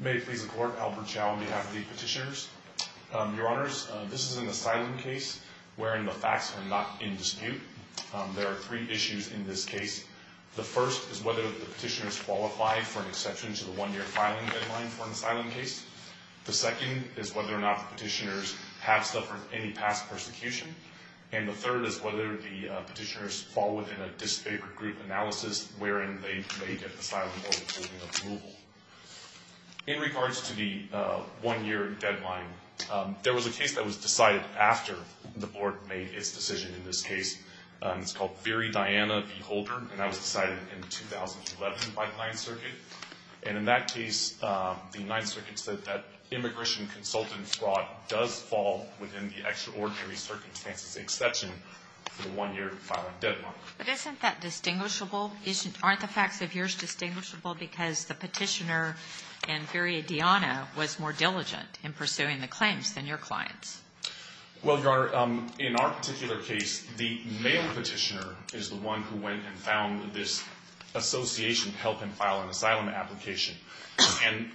May it please the Court, Albert Chow on behalf of the petitioners. Your Honors, this is an asylum case wherein the facts are not in dispute. There are three issues in this case. The first is whether the petitioners qualify for an exception to the one-year filing deadline for an asylum case. The second is whether or not the petitioners have suffered any past persecution. And the third is whether the petitioners fall within a disfavored group analysis wherein they may get asylum or withholding approval. In regards to the one-year deadline, there was a case that was decided after the Board made its decision in this case. It's called Veri Diana v. Holder, and that was decided in 2011 by the Ninth Circuit. And in that case, the Ninth Circuit said that immigration consultant fraud does fall within the extraordinary circumstances exception for the one-year filing deadline. But isn't that distinguishable? Aren't the facts of yours distinguishable because the petitioner in Veri Diana was more diligent in pursuing the claims than your clients? Well, Your Honor, in our particular case, the male petitioner is the one who went and found this association to help him file an asylum application. And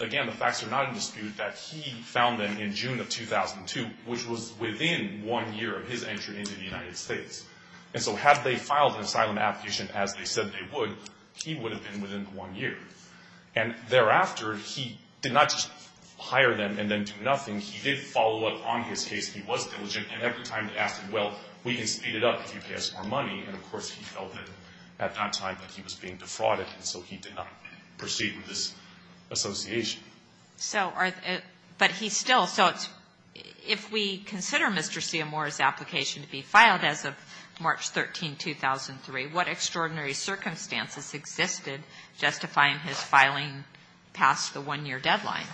again, the facts are not in dispute that he found them in June of 2002, which was within one year of his entry into the United States. And so had they filed an asylum application as they said they would, he would have been within the one year. And thereafter, he did not just hire them and then do nothing. He did follow up on his case. He was diligent. And every time they asked him, well, we can speed it up if you pay us more money. And, of course, he felt that at that time that he was being defrauded, and so he did not proceed with this association. So are the – but he still – so it's – if we consider Mr. Seymour's application to be filed as of March 13, 2003, what extraordinary circumstances existed justifying his filing past the one-year deadline?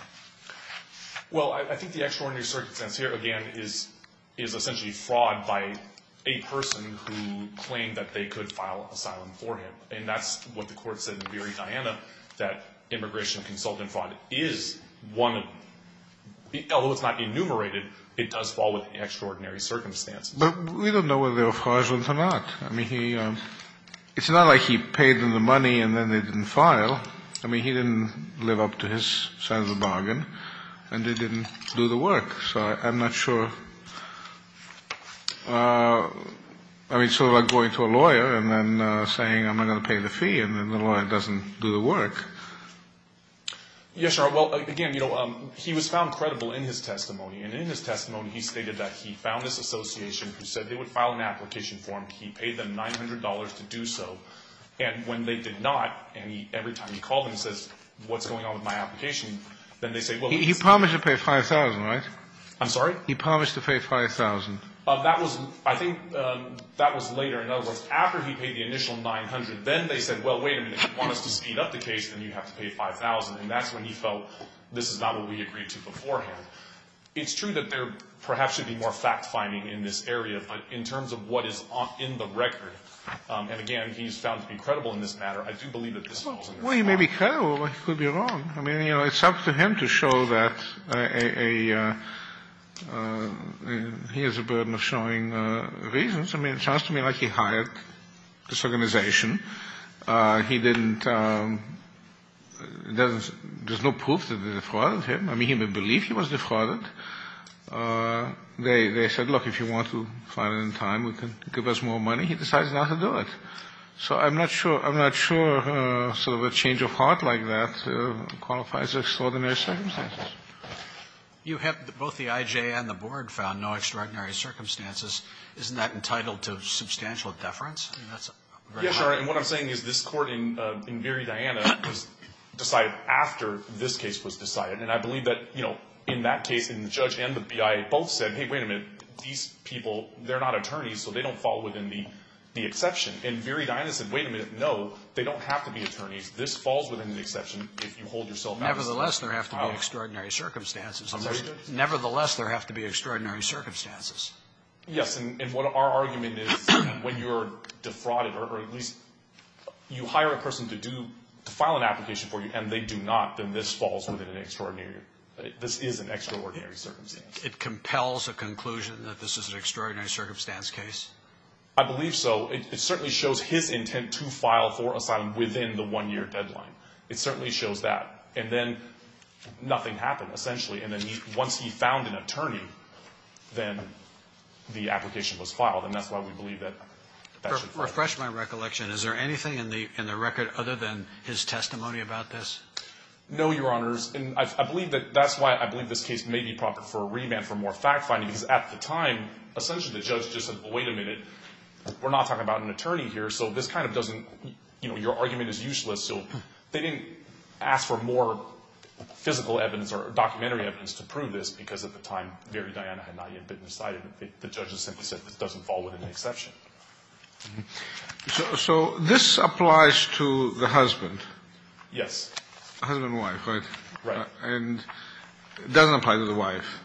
Well, I think the extraordinary circumstance here, again, is essentially fraud by a person who claimed that they could file asylum for him. And that's what the Court said in Veri Diana, that immigration consultant fraud is one of – although it's not enumerated, it does fall within extraordinary circumstances. But we don't know whether they were fraudulent or not. I mean, he – it's not like he paid them the money and then they didn't file. I mean, he didn't live up to his sense of bargain, and they didn't do the work. So I'm not sure – I mean, sort of like going to a lawyer and then saying, I'm not going to pay the fee, and then the lawyer doesn't do the work. Yes, Your Honor. Well, again, you know, he was found credible in his testimony. And in his testimony, he stated that he found this association who said they would file an application for him. He paid them $900 to do so. And when they did not, and he – every time he called them, he says, what's going on with my application? Then they say, well, he's – He promised to pay $5,000, right? I'm sorry? He promised to pay $5,000. That was – I think that was later. In other words, after he paid the initial $900, then they said, well, wait a minute. If you want us to speed up the case, then you have to pay $5,000. And that's when he felt this is not what we agreed to beforehand. It's true that there perhaps should be more fact-finding in this area, but in terms of what is in the record, and again, he's found to be credible in this matter, I do believe that this falls under fraud. Well, he may be credible, but he could be wrong. I mean, you know, it's up to him to show that a – he has a burden of showing reasons. I mean, it sounds to me like he hired this organization. He didn't – there's no proof that they defrauded him. I mean, he may believe he was defrauded. They said, look, if you want to find it in time, we can give us more money. He decides not to do it. So I'm not sure – I'm not sure sort of a change of heart like that qualifies extraordinary circumstances. You have – both the IJ and the Board found no extraordinary circumstances. Isn't that entitled to substantial deference? Yes, Your Honor, and what I'm saying is this Court in Very Diana was decided after this case was decided. And I believe that, you know, in that case, the judge and the BIA both said, hey, wait a minute, these people, they're not attorneys, so they don't fall within the exception. And Very Diana said, wait a minute, no, they don't have to be attorneys. This falls within the exception if you hold yourself out. Nevertheless, there have to be extraordinary circumstances. Nevertheless, there have to be extraordinary circumstances. Yes, and what our argument is, when you're defrauded or at least you hire a person to do – if they do not, then this falls within an extraordinary – this is an extraordinary circumstance. It compels a conclusion that this is an extraordinary circumstance case? I believe so. It certainly shows his intent to file for asylum within the one-year deadline. It certainly shows that. And then nothing happened, essentially. And then once he found an attorney, then the application was filed. And that's why we believe that – Let me just refresh my recollection. Is there anything in the record other than his testimony about this? No, Your Honors. And I believe that – that's why I believe this case may be proper for a remand for more fact-finding, because at the time, essentially the judge just said, wait a minute, we're not talking about an attorney here, so this kind of doesn't – you know, your argument is useless. So they didn't ask for more physical evidence or documentary evidence to prove this, because at the time, Very Diana had not yet been decided. The judge has simply said this doesn't fall within the exception. So this applies to the husband? Yes. Husband and wife, right? Right. And it doesn't apply to the wife.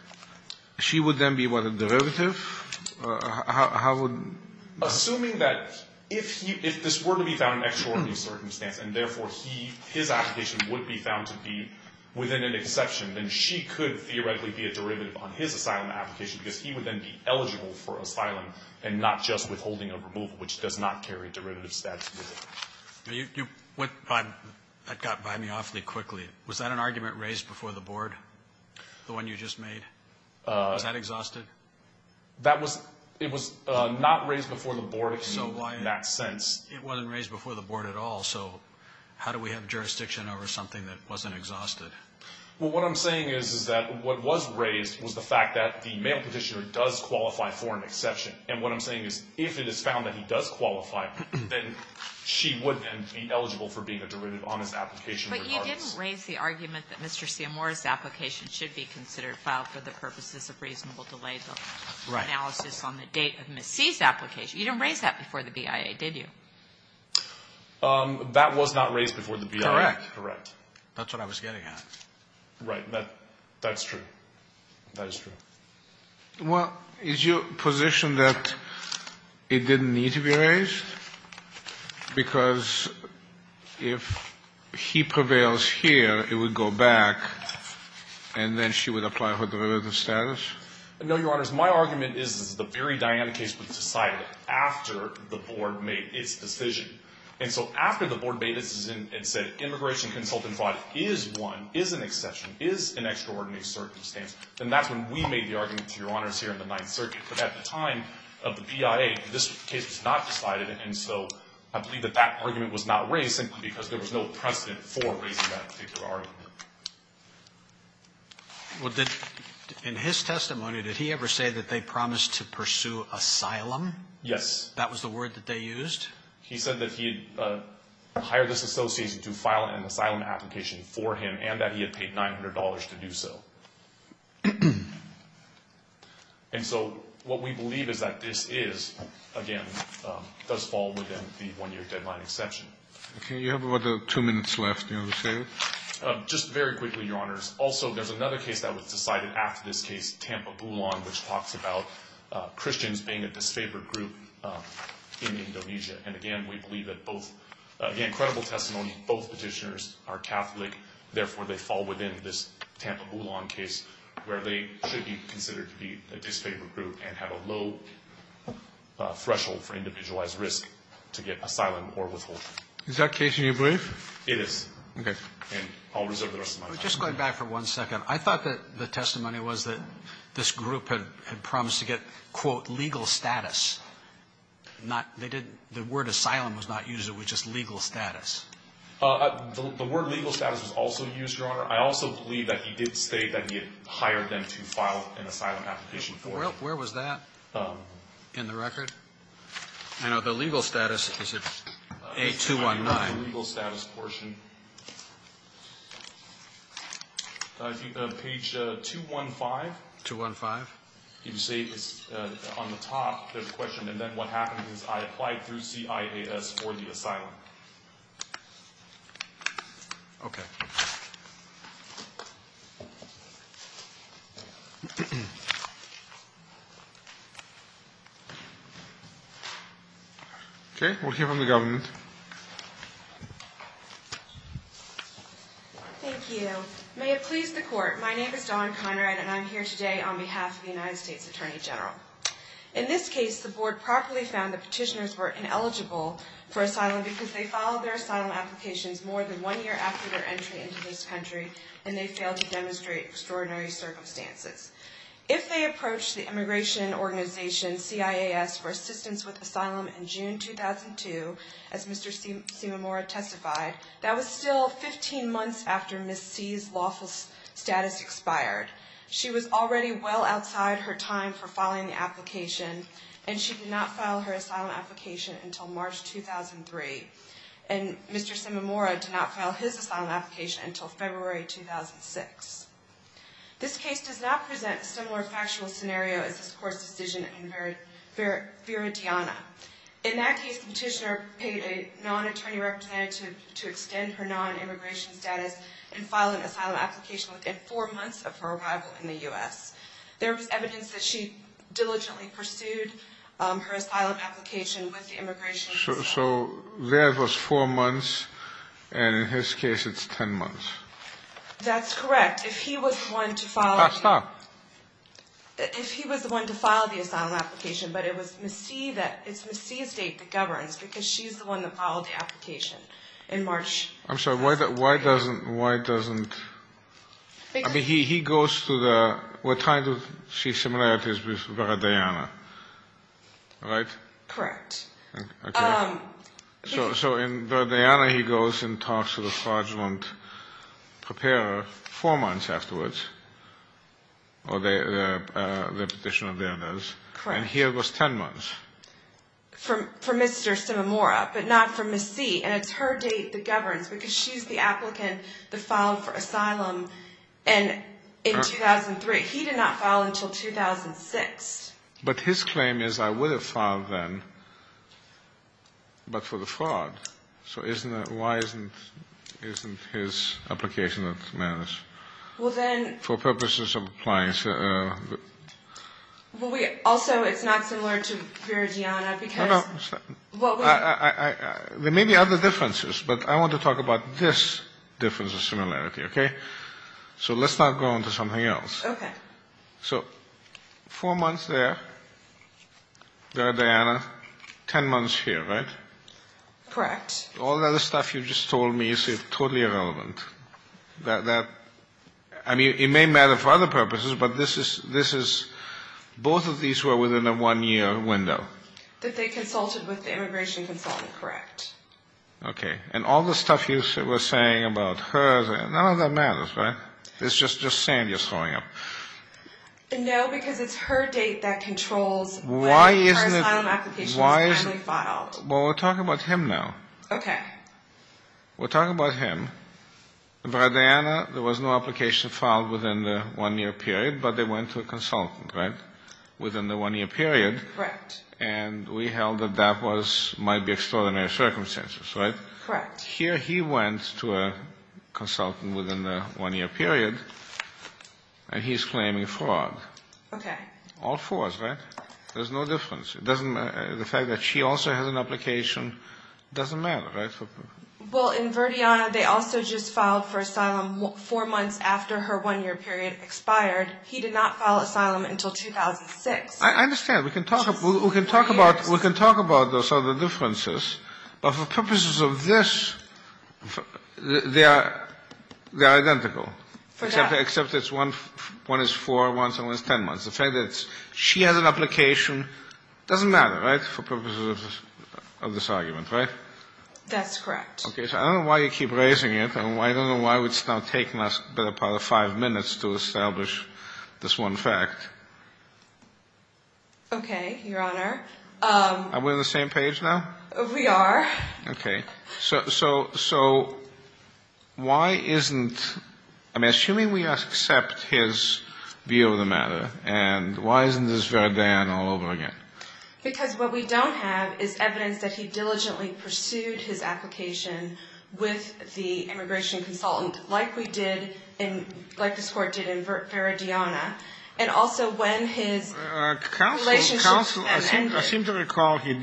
She would then be what, a derivative? How would – Assuming that if he – if this were to be found an extraordinary circumstance and therefore he – his application would be found to be within an exception, then she could theoretically be a derivative on his asylum application, because he would then be eligible for asylum and not just withholding a removal, which does not carry a derivative statute. You went by – that got by me awfully quickly. Was that an argument raised before the Board, the one you just made? Was that exhausted? That was – it was not raised before the Board in that sense. So why – it wasn't raised before the Board at all, so how do we have jurisdiction over something that wasn't exhausted? Well, what I'm saying is, is that what was raised was the fact that the male Petitioner does qualify for an exception, and what I'm saying is if it is found that he does qualify, then she would then be eligible for being a derivative on his application regardless. But you didn't raise the argument that Mr. Siamor's application should be considered filed for the purposes of reasonable delay, the analysis on the date of Ms. C's application. You didn't raise that before the BIA, did you? That was not raised before the BIA. Correct. That's what I was getting at. Right. That's true. That is true. Well, is your position that it didn't need to be raised? Because if he prevails here, it would go back, and then she would apply for derivative status? No, Your Honors. My argument is that the very dynamic case was decided after the Board made its decision. And so after the Board made its decision and said immigration consultant fraud is one, is an exception, is an extraordinary circumstance, then that's when we made the argument, Your Honors, here in the Ninth Circuit. But at the time of the BIA, this case was not decided, and so I believe that that argument was not raised simply because there was no precedent for raising that particular argument. Well, did the – in his testimony, did he ever say that they promised to pursue asylum? That was the word that they used? He said that he had hired this association to file an asylum application for him and that he had paid $900 to do so. And so what we believe is that this is, again, does fall within the one-year deadline exception. Okay. You have about two minutes left. Do you want to say it? Just very quickly, Your Honors. Also, there's another case that was decided after this case, Tampa Bulan, which talks about Christians being a disfavored group in Indonesia. And again, we believe that both – again, credible testimony, both petitioners are Catholic, therefore, they fall within this Tampa Bulan case where they should be considered to be a disfavored group and have a low threshold for individualized risk to get asylum or withhold. Is that case in your belief? It is. Okay. And I'll reserve the rest of my time. Just going back for one second, I thought that the testimony was that this group had promised to get, quote, legal status, not – they didn't – the word asylum was not used. It was just legal status. The word legal status was also used, Your Honor. I also believe that he did say that he had hired them to file an asylum application for him. Where was that in the record? I know the legal status is at A219. The legal status portion. Page 215. 215. If you see on the top, there's a question, and then what happened is I applied through CIAS for the asylum. Okay. Okay. We'll hear from the government. Thank you. May it please the Court. My name is Dawn Conrad, and I'm here today on behalf of the United States Attorney General. In this case, the Board properly found the petitioners were ineligible for asylum because they filed their asylum applications more than one year after their entry into this country, and they failed to demonstrate extraordinary circumstances. If they approached the immigration organization, CIAS, for assistance with asylum in June 2002, as Mr. Simomora testified, that was still 15 months after Ms. C's lawful status expired. She was already well outside her time for filing the application, and she did not file her asylum application until March 2003. And Mr. Simomora did not file his asylum application until February 2006. This case does not present a similar factual scenario as this Court's decision in Veritiana. In that case, the petitioner paid a non-attorney representative to extend her non-immigration status and file an asylum application within four months of her arrival in the U.S. There was evidence that she diligently pursued her asylum application with the immigration institution. So there was four months, and in his case, it's 10 months. That's correct. If he was the one to file the asylum application, but it was Ms. C that governs, because she's the one that filed the application in March 2003. I'm sorry, why doesn't, why doesn't, I mean, he goes to the, we're trying to see similarities with Veritiana, right? Correct. Okay. So in Veritiana, he goes and talks to the fraudulent preparer four months afterwards, or the petitioner there does. Correct. And here it was 10 months. For Mr. Simomora, but not for Ms. C. And it's her date that governs, because she's the applicant that filed for asylum in 2003. He did not file until 2006. But his claim is, I would have filed then, but for the fraud. So isn't that, why isn't, isn't his application that's managed? Well, then. For purposes of applying. Well, we also, it's not similar to Veritiana, because. There may be other differences, but I want to talk about this difference of similarity, okay? So let's not go on to something else. Okay. So four months there, Veritiana, 10 months here, right? Correct. All the other stuff you just told me is totally irrelevant. I mean, it may matter for other purposes, but this is, both of these were within a one-year window. That they consulted with the immigration consultant, correct. Okay. And all the stuff you were saying about her, none of that matters, right? It's just sand you're throwing up. No, because it's her date that controls when her asylum application is finally filed. Well, we're talking about him now. Okay. We're talking about him. Veritiana, there was no application filed within the one-year period, but they went to a consultant, right? Within the one-year period. Correct. And we held that that was, might be extraordinary circumstances, right? Correct. Here he went to a consultant within the one-year period, and he's claiming fraud. Okay. All fours, right? There's no difference. The fact that she also has an application doesn't matter, right? Well, in Veritiana, they also just filed for asylum four months after her one-year period expired. He did not file asylum until 2006. I understand. We can talk about those other differences, but for purposes of this, they are identical. For that. Except it's one is four months and one is ten months. The fact that she has an application doesn't matter, right, for purposes of this argument, right? That's correct. Okay. So I don't know why you keep raising it, and I don't know why it's now taken us a better part of five minutes to establish this one fact. Okay, Your Honor. Are we on the same page now? We are. Okay. So why isn't – I mean, assuming we accept his view of the matter, and why isn't this Veritiana all over again? Because what we don't have is evidence that he diligently pursued his application with the immigration consultant, like we did in – like this Court did in Veritiana, and also when his relationship ended. Counsel, I seem to recall he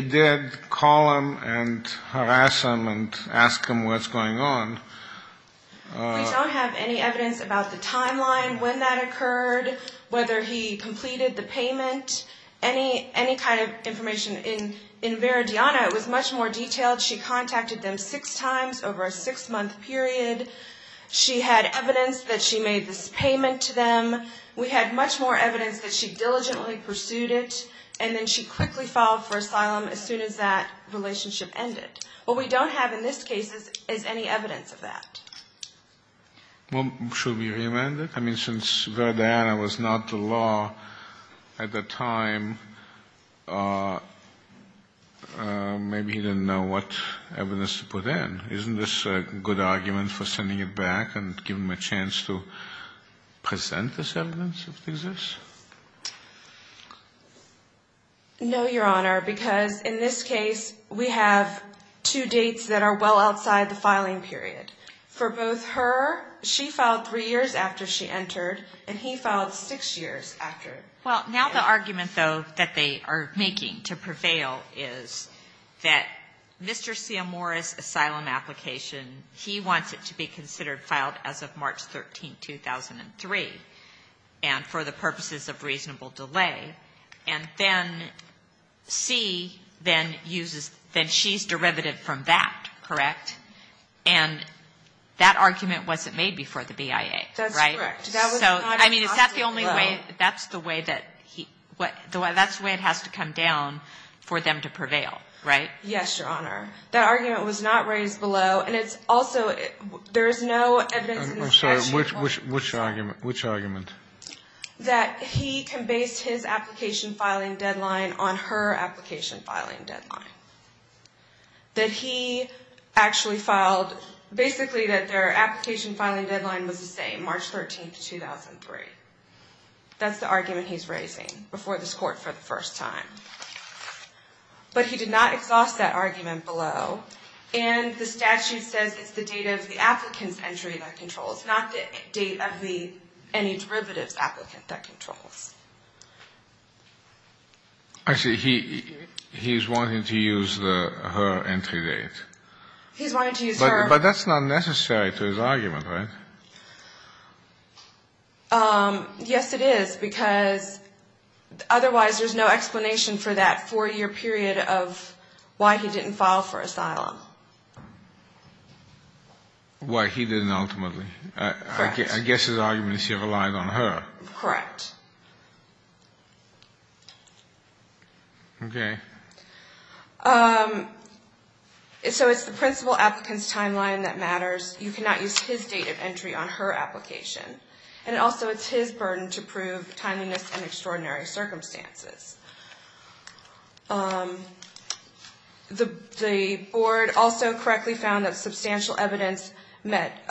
did call him and harass him and ask him what's going on. We don't have any evidence about the timeline, when that occurred, whether he completed the payment, any kind of information. In Veritiana, it was much more detailed. She contacted them six times over a six-month period. She had evidence that she made this payment to them. We had much more evidence that she diligently pursued it, and then she quickly filed for asylum as soon as that relationship ended. What we don't have in this case is any evidence of that. Well, should we reamend it? I mean, since Veritiana was not the law at the time, maybe he didn't know what evidence to put in. Isn't this a good argument for sending it back and giving them a chance to present this evidence if it exists? No, Your Honor, because in this case, we have two dates that are well outside the filing period. For both her – she filed three years after she entered, and he filed six years after. Well, now the argument, though, that they are making to prevail is that Mr. Ciamora's asylum application, he wants it to be considered filed as of March 13, 2003, and for the purposes of reasonable delay. And then C then uses – then she's derivative from that, correct? And that argument wasn't made before the BIA, right? That's correct. So, I mean, is that the only way – that's the way that he – that's the way it has to come down for them to prevail, right? Yes, Your Honor. That argument was not raised below. And it's also – there is no evidence in this case. I'm sorry. Which argument? Which argument? That he can base his application filing deadline on her application filing deadline. That he actually filed – basically that their application filing deadline was the same, March 13, 2003. That's the argument he's raising before this Court for the first time. But he did not exhaust that argument below. And the statute says it's the date of the applicant's entry that controls, not the date of the – any derivatives applicant that controls. Actually, he's wanting to use her entry date. He's wanting to use her. But that's not necessary to his argument, right? Yes, it is. Because otherwise there's no explanation for that four-year period of why he didn't file for asylum. Why he didn't ultimately. Correct. I guess his argument is he relied on her. Correct. Okay. So it's the principal applicant's timeline that matters. You cannot use his date of entry on her application. And also it's his burden to prove timeliness and extraordinary circumstances. The board also correctly found that substantial evidence that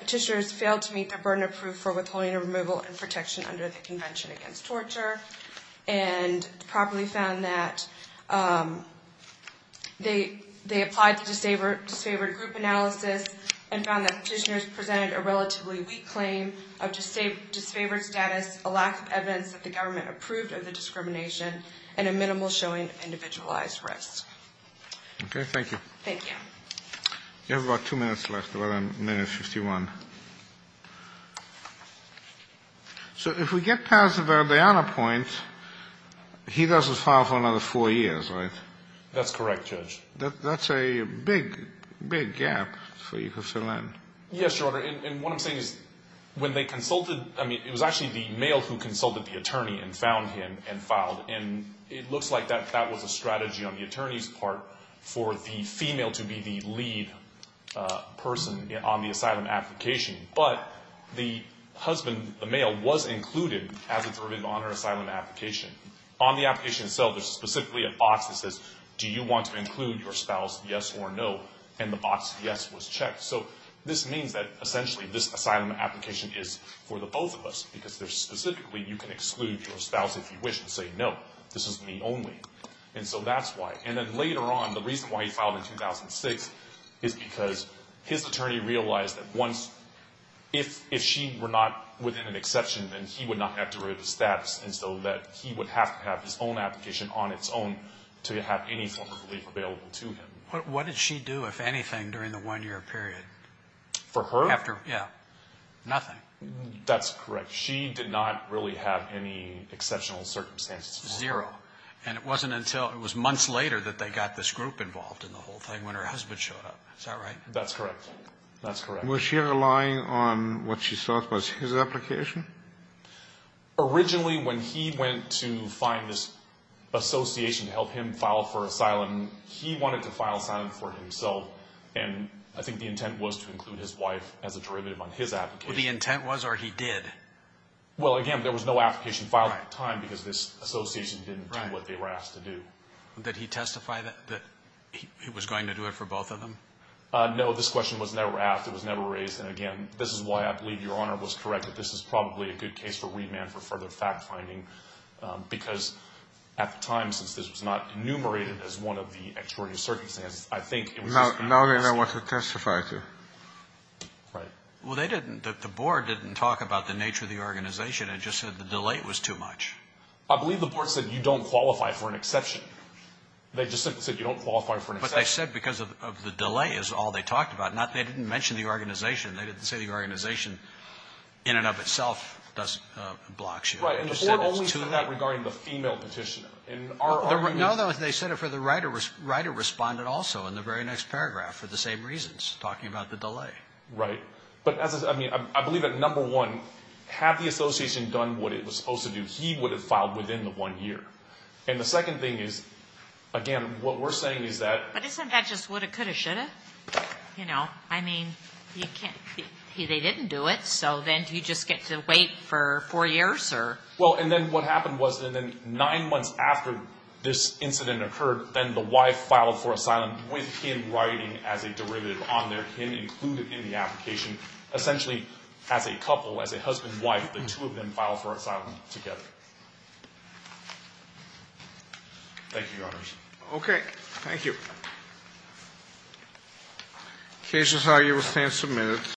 petitioners failed to meet their burden of proof for withholding a removal and protection under the Convention Against Torture. And properly found that they applied to disfavored group analysis and found that petitioners presented a relatively weak claim of disfavored status, a lack of evidence that the government approved of the discrimination, and a minimal showing of individualized risk. Okay. Thank you. Thank you. You have about two minutes left. We're on minute 51. So if we get past the Diana point, he doesn't file for another four years, right? That's correct, Judge. That's a big, big gap for you to fill in. Yes, Your Honor. And what I'm saying is when they consulted, I mean, it was actually the male who consulted the attorney and found him and filed, and it looks like that was a strategy on the attorney's part for the female to be the lead person on the asylum application. But the husband, the male, was included as a derivative on her asylum application. On the application itself, there's specifically a box that says, do you want to include your spouse, yes or no? And the box yes was checked. So this means that essentially this asylum application is for the both of us because there's specifically you can exclude your spouse if you wish and say, no, this is me only. And so that's why. And then later on, the reason why he filed in 2006 is because his attorney realized that once, if she were not within an exception, then he would not have derivative status, and so that he would have to have his own application on its own to have any form of relief available to him. What did she do, if anything, during the one-year period? For her? After, yeah, nothing. That's correct. She did not really have any exceptional circumstances. Zero. And it wasn't until it was months later that they got this group involved in the whole thing when her husband showed up. Is that right? That's correct. That's correct. Was she relying on what she thought was his application? Originally, when he went to find this association to help him file for asylum, he wanted to file asylum for himself, and I think the intent was to include his wife as a derivative on his application. The intent was, or he did? Well, again, there was no application filed at the time because this association didn't do what they were asked to do. Did he testify that he was going to do it for both of them? No, this question was never asked. It was never raised, and, again, this is why I believe Your Honor was correct that this is probably a good case for remand for further fact-finding because at the time, since this was not enumerated as one of the extraordinary circumstances, I think it was just a matter of asking. Now they know what to testify to. Right. Well, they didn't. The board didn't talk about the nature of the organization. It just said the delay was too much. I believe the board said you don't qualify for an exception. They just simply said you don't qualify for an exception. But they said because of the delay is all they talked about. They didn't mention the organization. They didn't say the organization in and of itself does block you. Right, and the board only said that regarding the female petitioner. No, they said it for the right of respondent also in the very next paragraph for the same reasons, talking about the delay. Right. But, I mean, I believe that, number one, had the association done what it was supposed to do, he would have filed within the one year. And the second thing is, again, what we're saying is that – But isn't that just woulda, coulda, shoulda? You know, I mean, they didn't do it, so then do you just get to wait for four years? Well, and then what happened was that nine months after this incident occurred, then the wife filed for asylum with him writing as a derivative on there, him included in the application. Essentially, as a couple, as a husband and wife, the two of them filed for asylum together. Thank you, Your Honors. Okay, thank you. The case is now in submission.